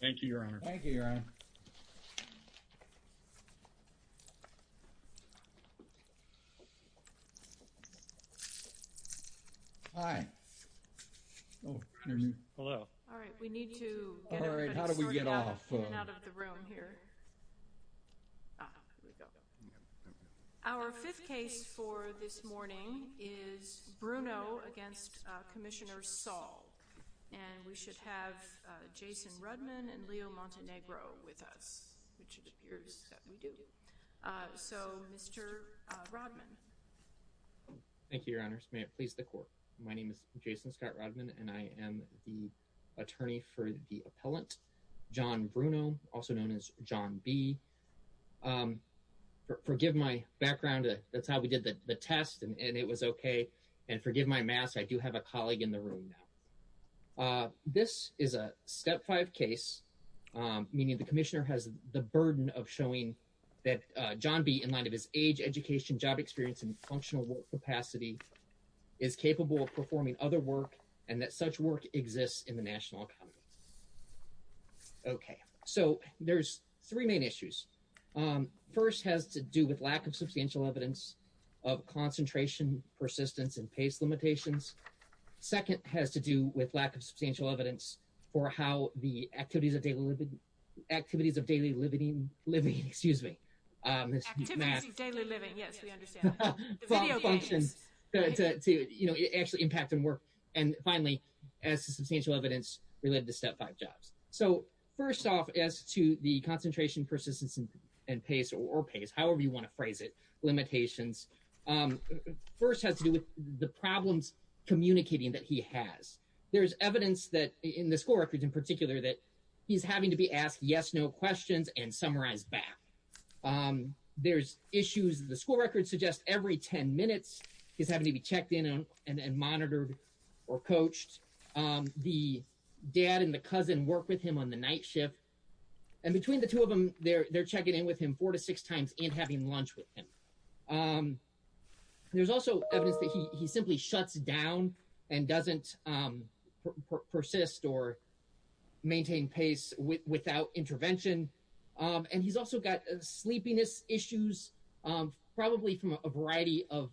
Thank you, Your Honor. Our fifth case for this morning is Bruno v. Commissioner Saul. And we should have Jason Rudman and Leo Montenegro with us, which it appears that we do. So Mr. Rudman. Thank you, Your Honors. May it please the Court. My name is Jason Scott Rudman, and I am the attorney for the appellant, John Bruno, also known as John B. Forgive my background, that's how we did the test, and it was okay. And forgive my mask. I do have a colleague in the room now. This is a step five case, meaning the commissioner has the burden of showing that John B., in light of his age, education, job experience, and functional work capacity, is capable of performing other work, and that such work exists in the national economy. Okay. So there's three main issues. First has to do with lack of substantial evidence of concentration, persistence, and pace limitations. Second has to do with lack of substantial evidence for how the activities of daily living excuse me. Activities of daily living, yes, we understand. Video games. Function to, you know, actually impact on work. And finally, as to substantial evidence related to step five jobs. So first off, as to the concentration, persistence, and pace, or pace, however you want to phrase it, limitations, first has to do with the problems communicating that he has. There's evidence that, in the school records in particular, that he's having to be asked yes no questions and summarized back. There's issues, the school records suggest every 10 minutes, he's having to be checked in and monitored or coached. The dad and the cousin work with him on the night shift, and between the two of them, they're checking in with him four to six times and having lunch with him. There's also evidence that he simply shuts down and doesn't persist or maintain pace without intervention. And he's also got sleepiness issues, probably from a variety of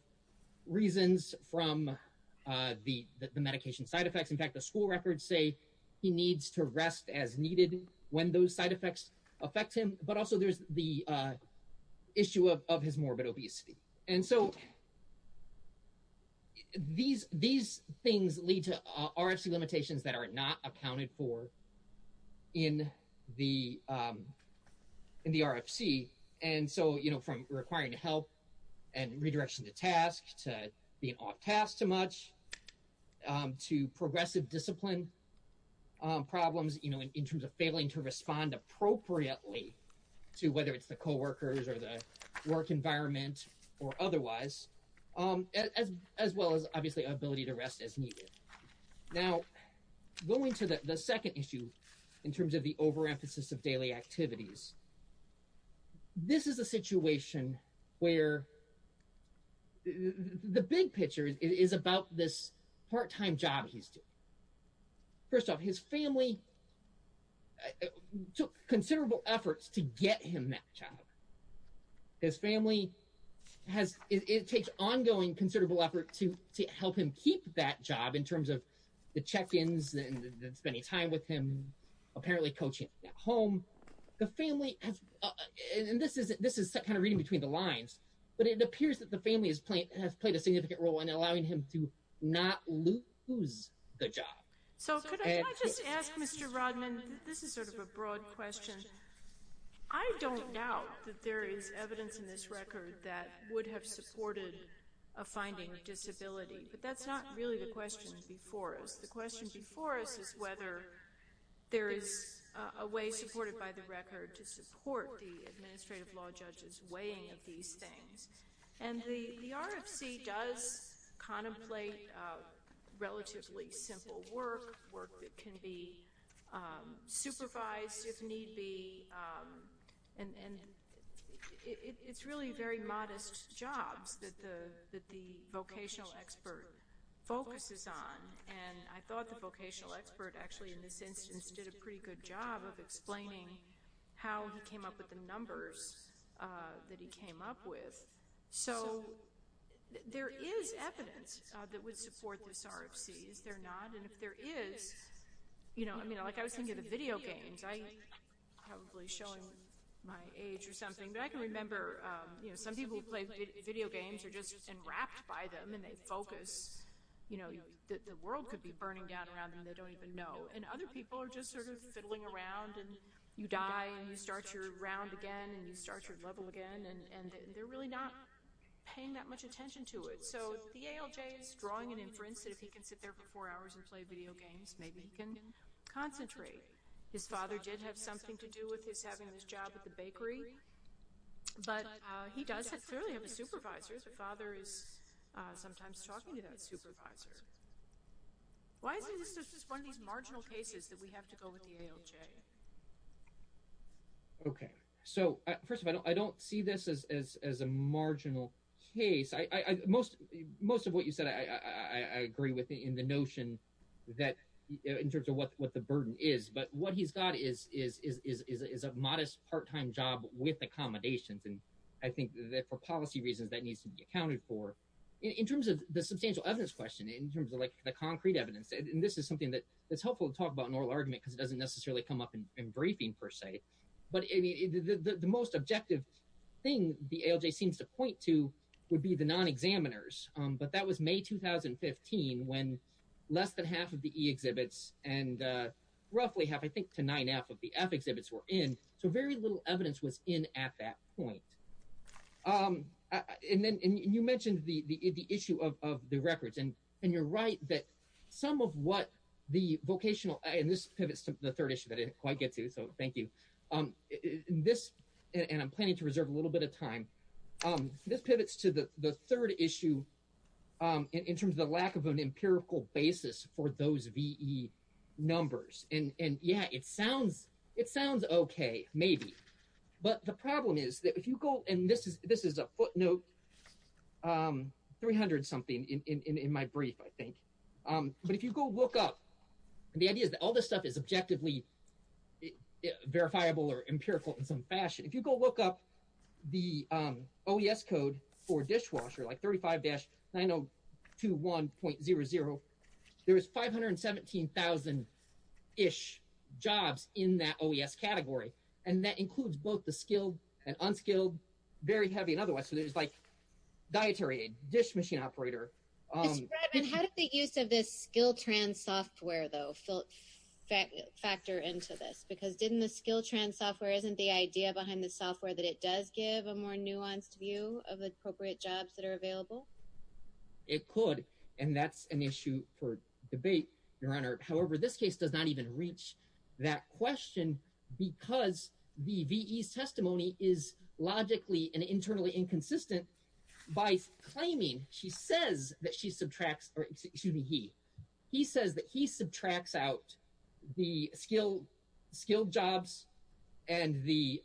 reasons from the medication side effects. In fact, the school records say he needs to rest as needed when those side effects affect him, but also there's the issue of his morbid obesity. And so these things lead to RFC limitations that are not accounted for in the RFC. And so from requiring help and redirection to task, to being off task too much, to progressive discipline problems, you know, in terms of failing to respond appropriately to whether it's the coworkers or the work environment or otherwise, as well as obviously ability to rest as needed. Now going to the second issue in terms of the overemphasis of daily activities. This is a situation where the big picture is about this part-time job he's doing. First off, his family took considerable efforts to get him that job. His family has, it takes ongoing considerable effort to help him keep that job in terms of the check-ins and spending time with him, apparently coaching at home. The family has, and this is kind of reading between the lines, but it appears that the family has played a significant role in allowing him to not lose the job. So could I just ask Mr. Rodman, this is sort of a broad question. I don't doubt that there is evidence in this record that would have supported a finding of disability, but that's not really the question before us. The question before us is whether there is a way supported by the record to support the administrative law judge's weighing of these things. And the RFC does contemplate relatively simple work, work that can be supervised if need be, and it's really very modest jobs that the vocational expert focuses on. And I thought the vocational expert actually in this instance did a pretty good job of explaining how he came up with the numbers that he came up with. So there is evidence that would support this RFC. Is there not? And if there is, you know, I mean, like I was thinking of the video games. I'm probably showing my age or something, but I can remember, you know, some people who play video games are just enwrapped by them, and they focus, you know, the world could be burning down around them, they don't even know. And other people are just sort of fiddling around, and you die, and you start your round again, and you start your level again, and they're really not paying that much attention to it. So the ALJ is drawing an inference that if he can sit there for four hours and play video games, maybe he can concentrate. His father did have something to do with his having this job at the bakery, but he does clearly have a supervisor. His father is sometimes talking to that supervisor. Why is this just one of these marginal cases that we have to go with the ALJ? Okay. So first of all, I don't see this as a marginal case. Most of what you said, I agree with in the notion that in terms of what the burden is, but what he's got is a modest part-time job with accommodations, and I think that for policy reasons, that needs to be accounted for. In terms of the substantial evidence question, in terms of like the concrete evidence, and this is something that's helpful to talk about in oral argument because it doesn't necessarily come up in briefing, per se, but the most objective thing the ALJ seems to point to would be the non-examiners, but that was May 2015 when less than half of the E exhibits and roughly half, I think, to 9F of the F exhibits were in, so very little evidence was in at that point. And you mentioned the issue of the records, and you're right that some of what the vocational, and this pivots to the third issue that I didn't quite get to, so thank you. This, and I'm planning to reserve a little bit of time, this pivots to the third issue in terms of the lack of an empirical basis for those VE numbers, and yeah, it sounds okay, maybe, but the problem is that if you go, and this is a footnote, 300 something in my brief, I think, but if you go look up, and the idea is that all this stuff is objectively verifiable or empirical in some fashion, if you go look up the OES code for dishwasher, like 35-9021.00, there is 517,000-ish jobs in that OES category, and that includes both the skilled and unskilled, very heavy, and otherwise, so there's like dietary aid, dish machine operator. Ms. Bradman, how did the use of this Skiltrans software, though, factor into this? Because didn't the Skiltrans software, isn't the idea behind the software that it does give a more nuanced view of the appropriate jobs that are available? It could, and that's an issue for debate, Your Honor. However, this case does not even reach that question because the VE's testimony is logically and internally inconsistent by claiming, he says that he subtracts out the skilled jobs and the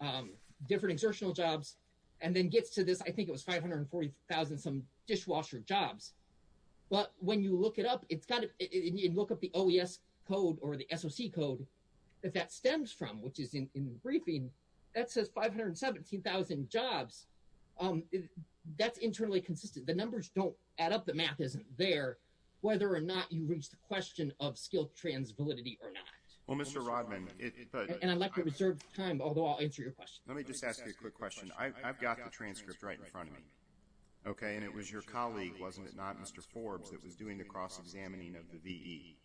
different exertional jobs, and then gets to this, I think it was 540,000-some dishwasher jobs, but when you look it up, and you look up the OES code or the SOC code that that stems from, which is in the briefing, that says 517,000 jobs. That's internally consistent. The numbers don't add up, the math isn't there, whether or not you reach the question of Skiltrans validity or not. Well, Mr. Rodman, it, but... And I'd like to reserve time, although I'll answer your question. Let me just ask you a quick question. I've got the transcript right in front of me, okay, and it was your colleague, wasn't it not, Mr. Forbes, that was doing the cross-examining of the VE.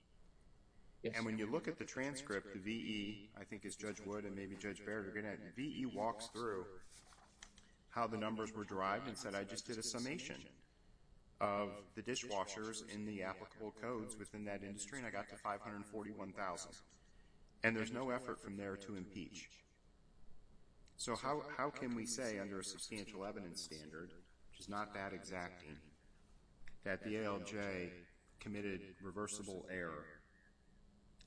And when you look at the transcript, the VE, I think it's Judge Wood and maybe Judge Baird are going to, VE walks through how the numbers were derived and said, I just did a summation of the dishwashers in the applicable codes within that industry, and I got to 541,000. And there's no effort from there to impeach. So, how can we say under a substantial evidence standard, which is not that exacting, that the ALJ committed reversible error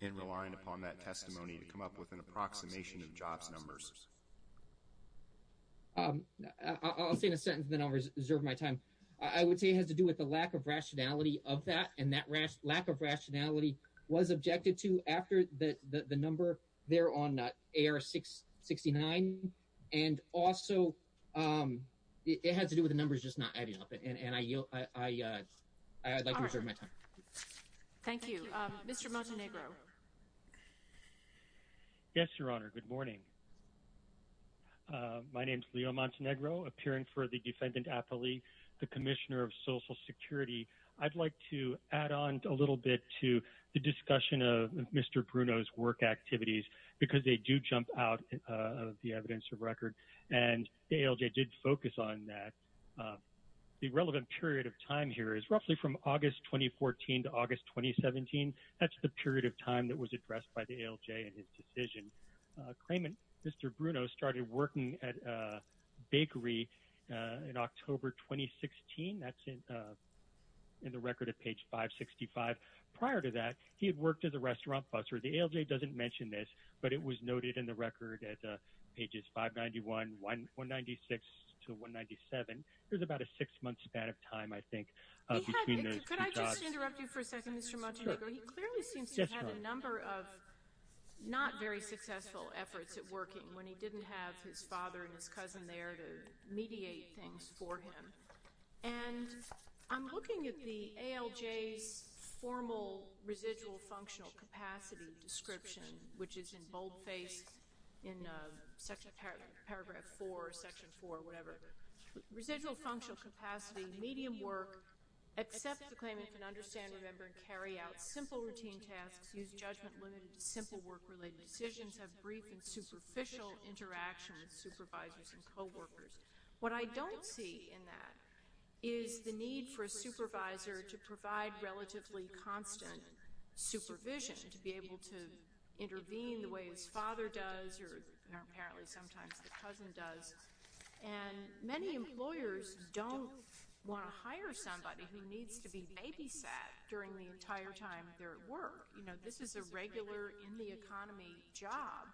in relying upon that testimony to come up with an approximation of jobs numbers? I'll say in a sentence, then I'll reserve my time. I would say it has to do with the lack of rationality of that, and that lack of rationality was objected to after the number there on AR-669. And also, it has to do with the numbers just not adding up, and I'd like to reserve my time. Thank you. Mr. Montenegro. Yes, Your Honor. Good morning. My name is Leo Montenegro, appearing for the defendant appellee, the Commissioner of Social Security. I'd like to add on a little bit to the discussion of Mr. Bruno's work activities, because they are evidence of record, and the ALJ did focus on that. The relevant period of time here is roughly from August 2014 to August 2017. That's the period of time that was addressed by the ALJ in his decision. Claimant Mr. Bruno started working at a bakery in October 2016. That's in the record at page 565. Prior to that, he had worked as a restaurant busser. The ALJ doesn't mention this, but it was noted in the record at pages 591, 196 to 197. There's about a six-month span of time, I think, between those two jobs. Could I just interrupt you for a second, Mr. Montenegro? Sure. He clearly seems to have had a number of not very successful efforts at working when he didn't have his father and his cousin there to mediate things for him. I'm looking at the ALJ's formal residual functional capacity description, which is in boldface in paragraph 4, section 4, whatever. Residual functional capacity, medium work, accepts the claimant can understand, remember, and carry out simple routine tasks, use judgment-limited to simple work-related decisions, have brief and superficial interactions with supervisors and coworkers. What I don't see in that is the need for a supervisor to provide relatively constant supervision, to be able to intervene the way his father does or apparently sometimes the cousin does. And many employers don't want to hire somebody who needs to be babysat during the entire time they're at work. You know, this is a regular, in-the-economy job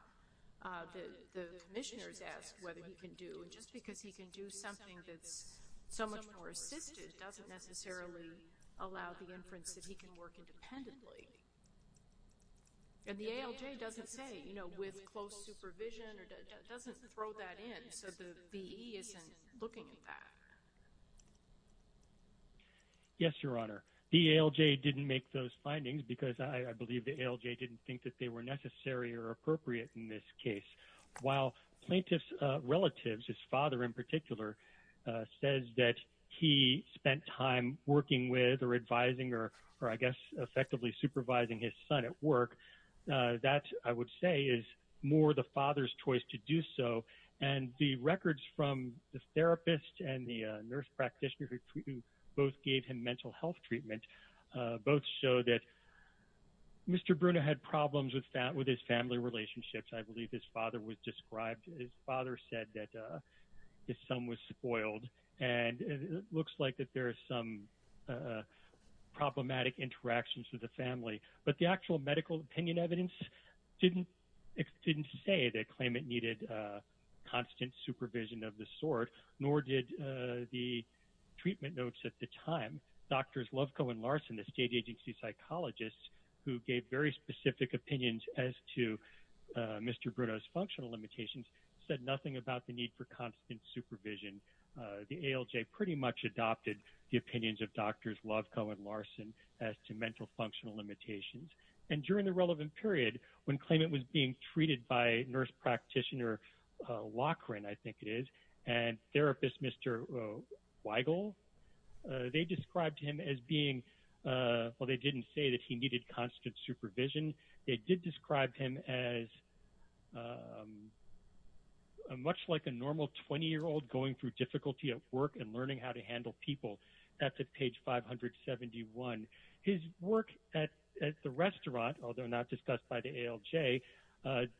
that the commissioners ask whether he can do. And just because he can do something that's so much more assisted doesn't necessarily allow the inference that he can work independently. And the ALJ doesn't say, you know, with close supervision or doesn't throw that in, so the VE isn't looking at that. Yes, Your Honor. The ALJ didn't make those findings because I believe the ALJ didn't think that they were necessary or appropriate in this case. While plaintiff's relatives, his father in particular, says that he spent time working with or advising or I guess effectively supervising his son at work, that, I would say, is more the father's choice to do so. And the records from the therapist and the nurse practitioner who both gave him mental health treatment both show that Mr. Bruno had problems with his family relationships. I believe his father was described, his father said that his son was spoiled. And it looks like that there are some problematic interactions with the family. But the actual medical opinion evidence didn't say that claimant needed constant supervision of the sort, nor did the treatment notes at the time. Doctors Loveco and Larson, the state agency psychologists who gave very specific opinions as to Mr. Bruno's functional limitations, said nothing about the need for constant supervision. The ALJ pretty much adopted the opinions of Drs. Loveco and Larson as to mental functional limitations. And during the relevant period, when claimant was being treated by nurse practitioner Lockren, I think it is, and therapist Mr. Weigel, they described him as being, well, they didn't say that he needed constant supervision. They did describe him as much like a normal 20-year-old going through difficulty at work and learning how to handle people. That's at page 571. His work at the restaurant, although not discussed by the ALJ,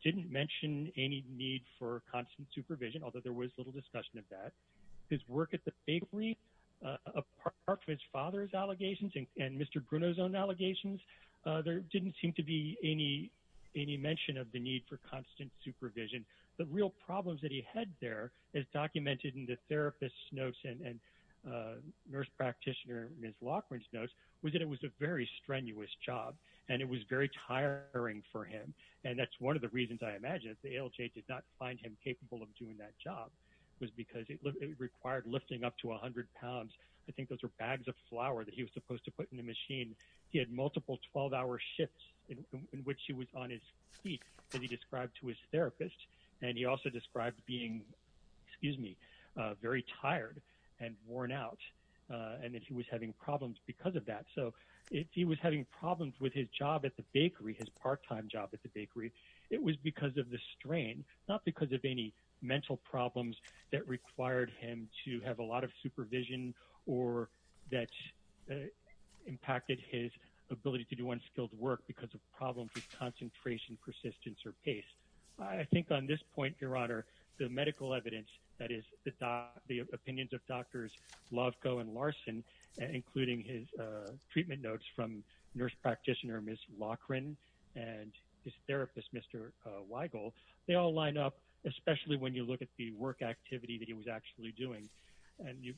didn't mention any need for constant supervision, although there was little discussion of that. His work at the bakery, apart from his father's allegations and Mr. Bruno's own allegations, there didn't seem to be any mention of the need for constant supervision. The real problems that he had there, as documented in the therapist's notes and nurse practitioner Ms. Lockren's notes, was that it was a very strenuous job and it was very tiring for him. And that's one of the reasons I imagine that the ALJ did not find him capable of doing that job, was because it required lifting up to 100 pounds. I think those were bags of flour that he was supposed to put in the machine. He had multiple 12-hour shifts in which he was on his feet, as he described to his therapist. And he also described being, excuse me, very tired and worn out, and that he was having problems because of that. So if he was having problems with his job at the bakery, his part-time job at the bakery, it was because of the strain, not because of any mental problems that required him to have a lot of supervision or that impacted his ability to do unskilled work because of problems with concentration, persistence, or pace. I think on this point, Your Honor, the medical evidence, that is, the opinions of Drs. Lovko and Larson, including his treatment notes from nurse practitioner Ms. Lockren and his therapist, Mr. Weigel, they all line up, especially when you look at the work activity that he was actually doing. And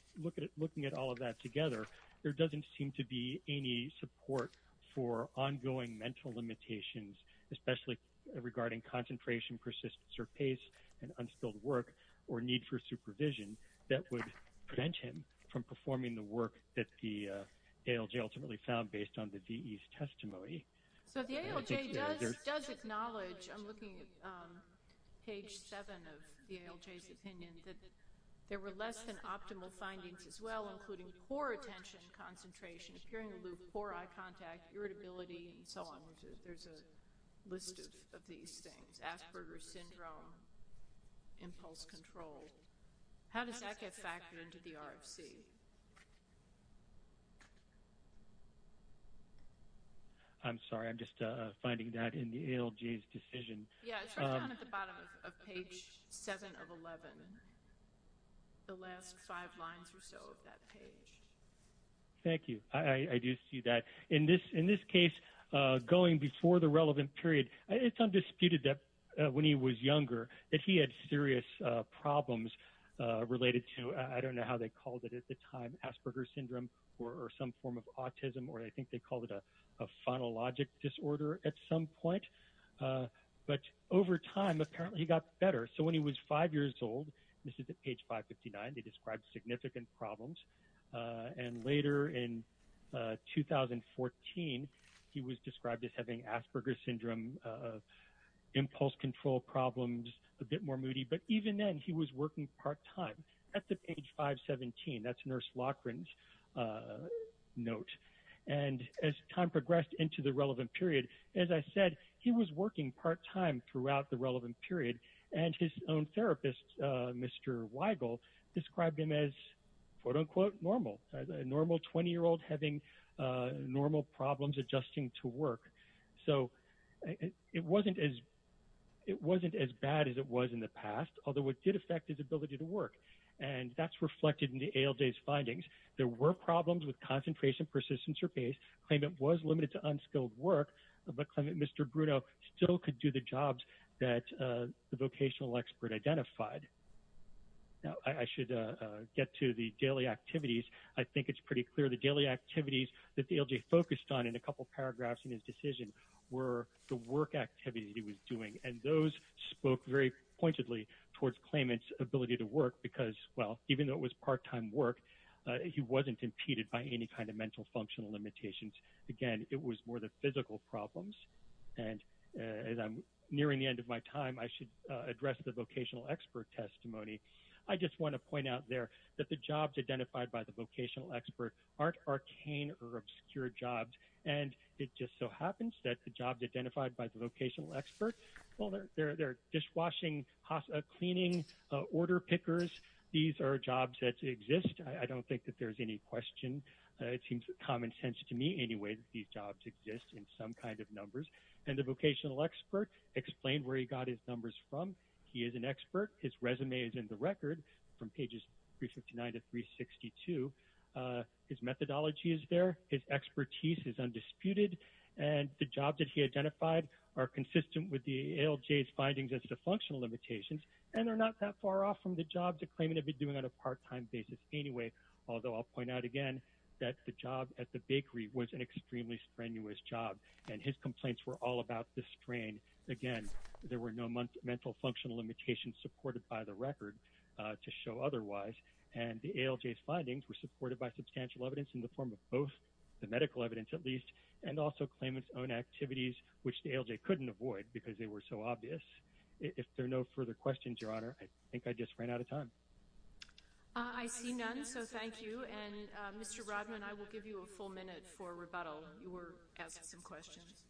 looking at all of that together, there doesn't seem to be any support for ongoing mental limitations, especially regarding concentration, persistence, or pace and unskilled work or need for supervision that would prevent him from performing the work that the ALJ ultimately found based on the VE's testimony. So the ALJ does acknowledge, I'm looking at page 7 of the ALJ's opinion, that there were less than optimal findings as well, including poor attention concentration, appearing aloof, poor eye contact, irritability, and so on. There's a list of these things, Asperger's syndrome, impulse control. How does that get factored into the RFC? I'm sorry, I'm just finding that in the ALJ's decision. Yeah, it starts down at the bottom of page 7 of 11, the last five lines or so of that page. Thank you. I do see that. In this case, going before the relevant period, it's undisputed that when he was younger that he had serious problems related to, I don't know how they called it at the time, Asperger's syndrome or some form of autism, or I think they called it a phonologic disorder at some point. But over time, apparently he got better. So when he was five years old, this is at page 559, they described significant problems. And later in 2014, he was described as having Asperger's syndrome, impulse control problems, a bit more moody. But even then, he was working part-time. That's at page 517. That's Nurse Loughran's note. And as time progressed into the relevant period, as I said, he was working part-time throughout the relevant period. And his own therapist, Mr. Weigel, described him as, quote-unquote, normal, a normal 20-year-old having normal problems adjusting to work. So it wasn't as bad as it was in the past, although it did affect his ability to work. And that's reflected in the ALJ's findings. There were problems with concentration, persistence, or pace. Claimant was limited to unskilled work, but Mr. Bruno still could do the jobs that the vocational expert identified. Now, I should get to the daily activities. I think it's pretty clear the daily activities that the ALJ focused on in a couple paragraphs in his decision were the work activities he was doing. And those spoke very pointedly towards claimant's ability to work because, well, even though it was part-time work, he wasn't impeded by any kind of mental functional limitations. Again, it was more the physical problems. And as I'm nearing the end of my time, I should address the vocational expert testimony. I just want to point out there that the jobs identified by the vocational expert aren't arcane or obscure jobs. And it just so happens that the jobs identified by the vocational expert, well, they're dishwashing, cleaning, order pickers. These are jobs that exist. I don't think that there's any question. It seems common sense to me anyway that these jobs exist in some kind of numbers. And the vocational expert explained where he got his numbers from. He is an expert. His resume is in the record from pages 359 to 362. His methodology is there. His expertise is undisputed. And the jobs that he identified are consistent with the ALJ's findings as to functional limitations, and they're not that far off from the jobs a claimant would be doing on a part-time basis anyway. Although I'll point out again that the job at the bakery was an extremely strenuous job, and his complaints were all about the strain. Again, there were no mental functional limitations supported by the record to show otherwise. And the ALJ's findings were supported by substantial evidence in the form of both the medical evidence, at least, and also claimant's own activities, which the ALJ couldn't avoid because they were so obvious. If there are no further questions, Your Honor, I think I just ran out of time. I see none, so thank you. And, Mr. Rodman, I will give you a full minute for rebuttal. You were asking some questions.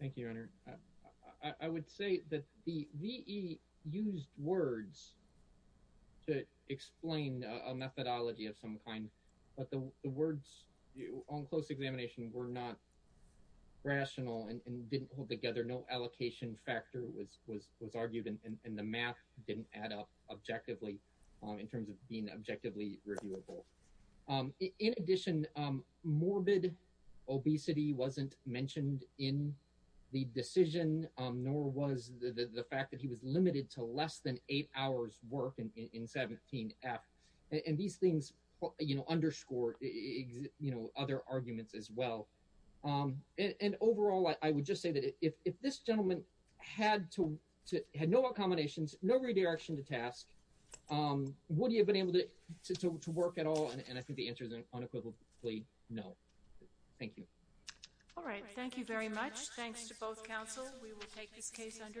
Thank you, Your Honor. I would say that the VE used words to explain a methodology of some kind, but the words on close examination were not rational and didn't hold together. No allocation factor was argued, and the math didn't add up objectively in terms of being objectively reviewable. In addition, morbid obesity wasn't mentioned in the decision, nor was the fact that he was limited to less than eight hours work in 17F. And these things underscore other arguments as well. And overall, I would just say that if this gentleman had no accommodations, no redirection to task, would he have been able to work at all? And I think the answer is unequivocally no. Thank you. All right. Thank you very much. Thanks to both counsel. We will take this case under advisement.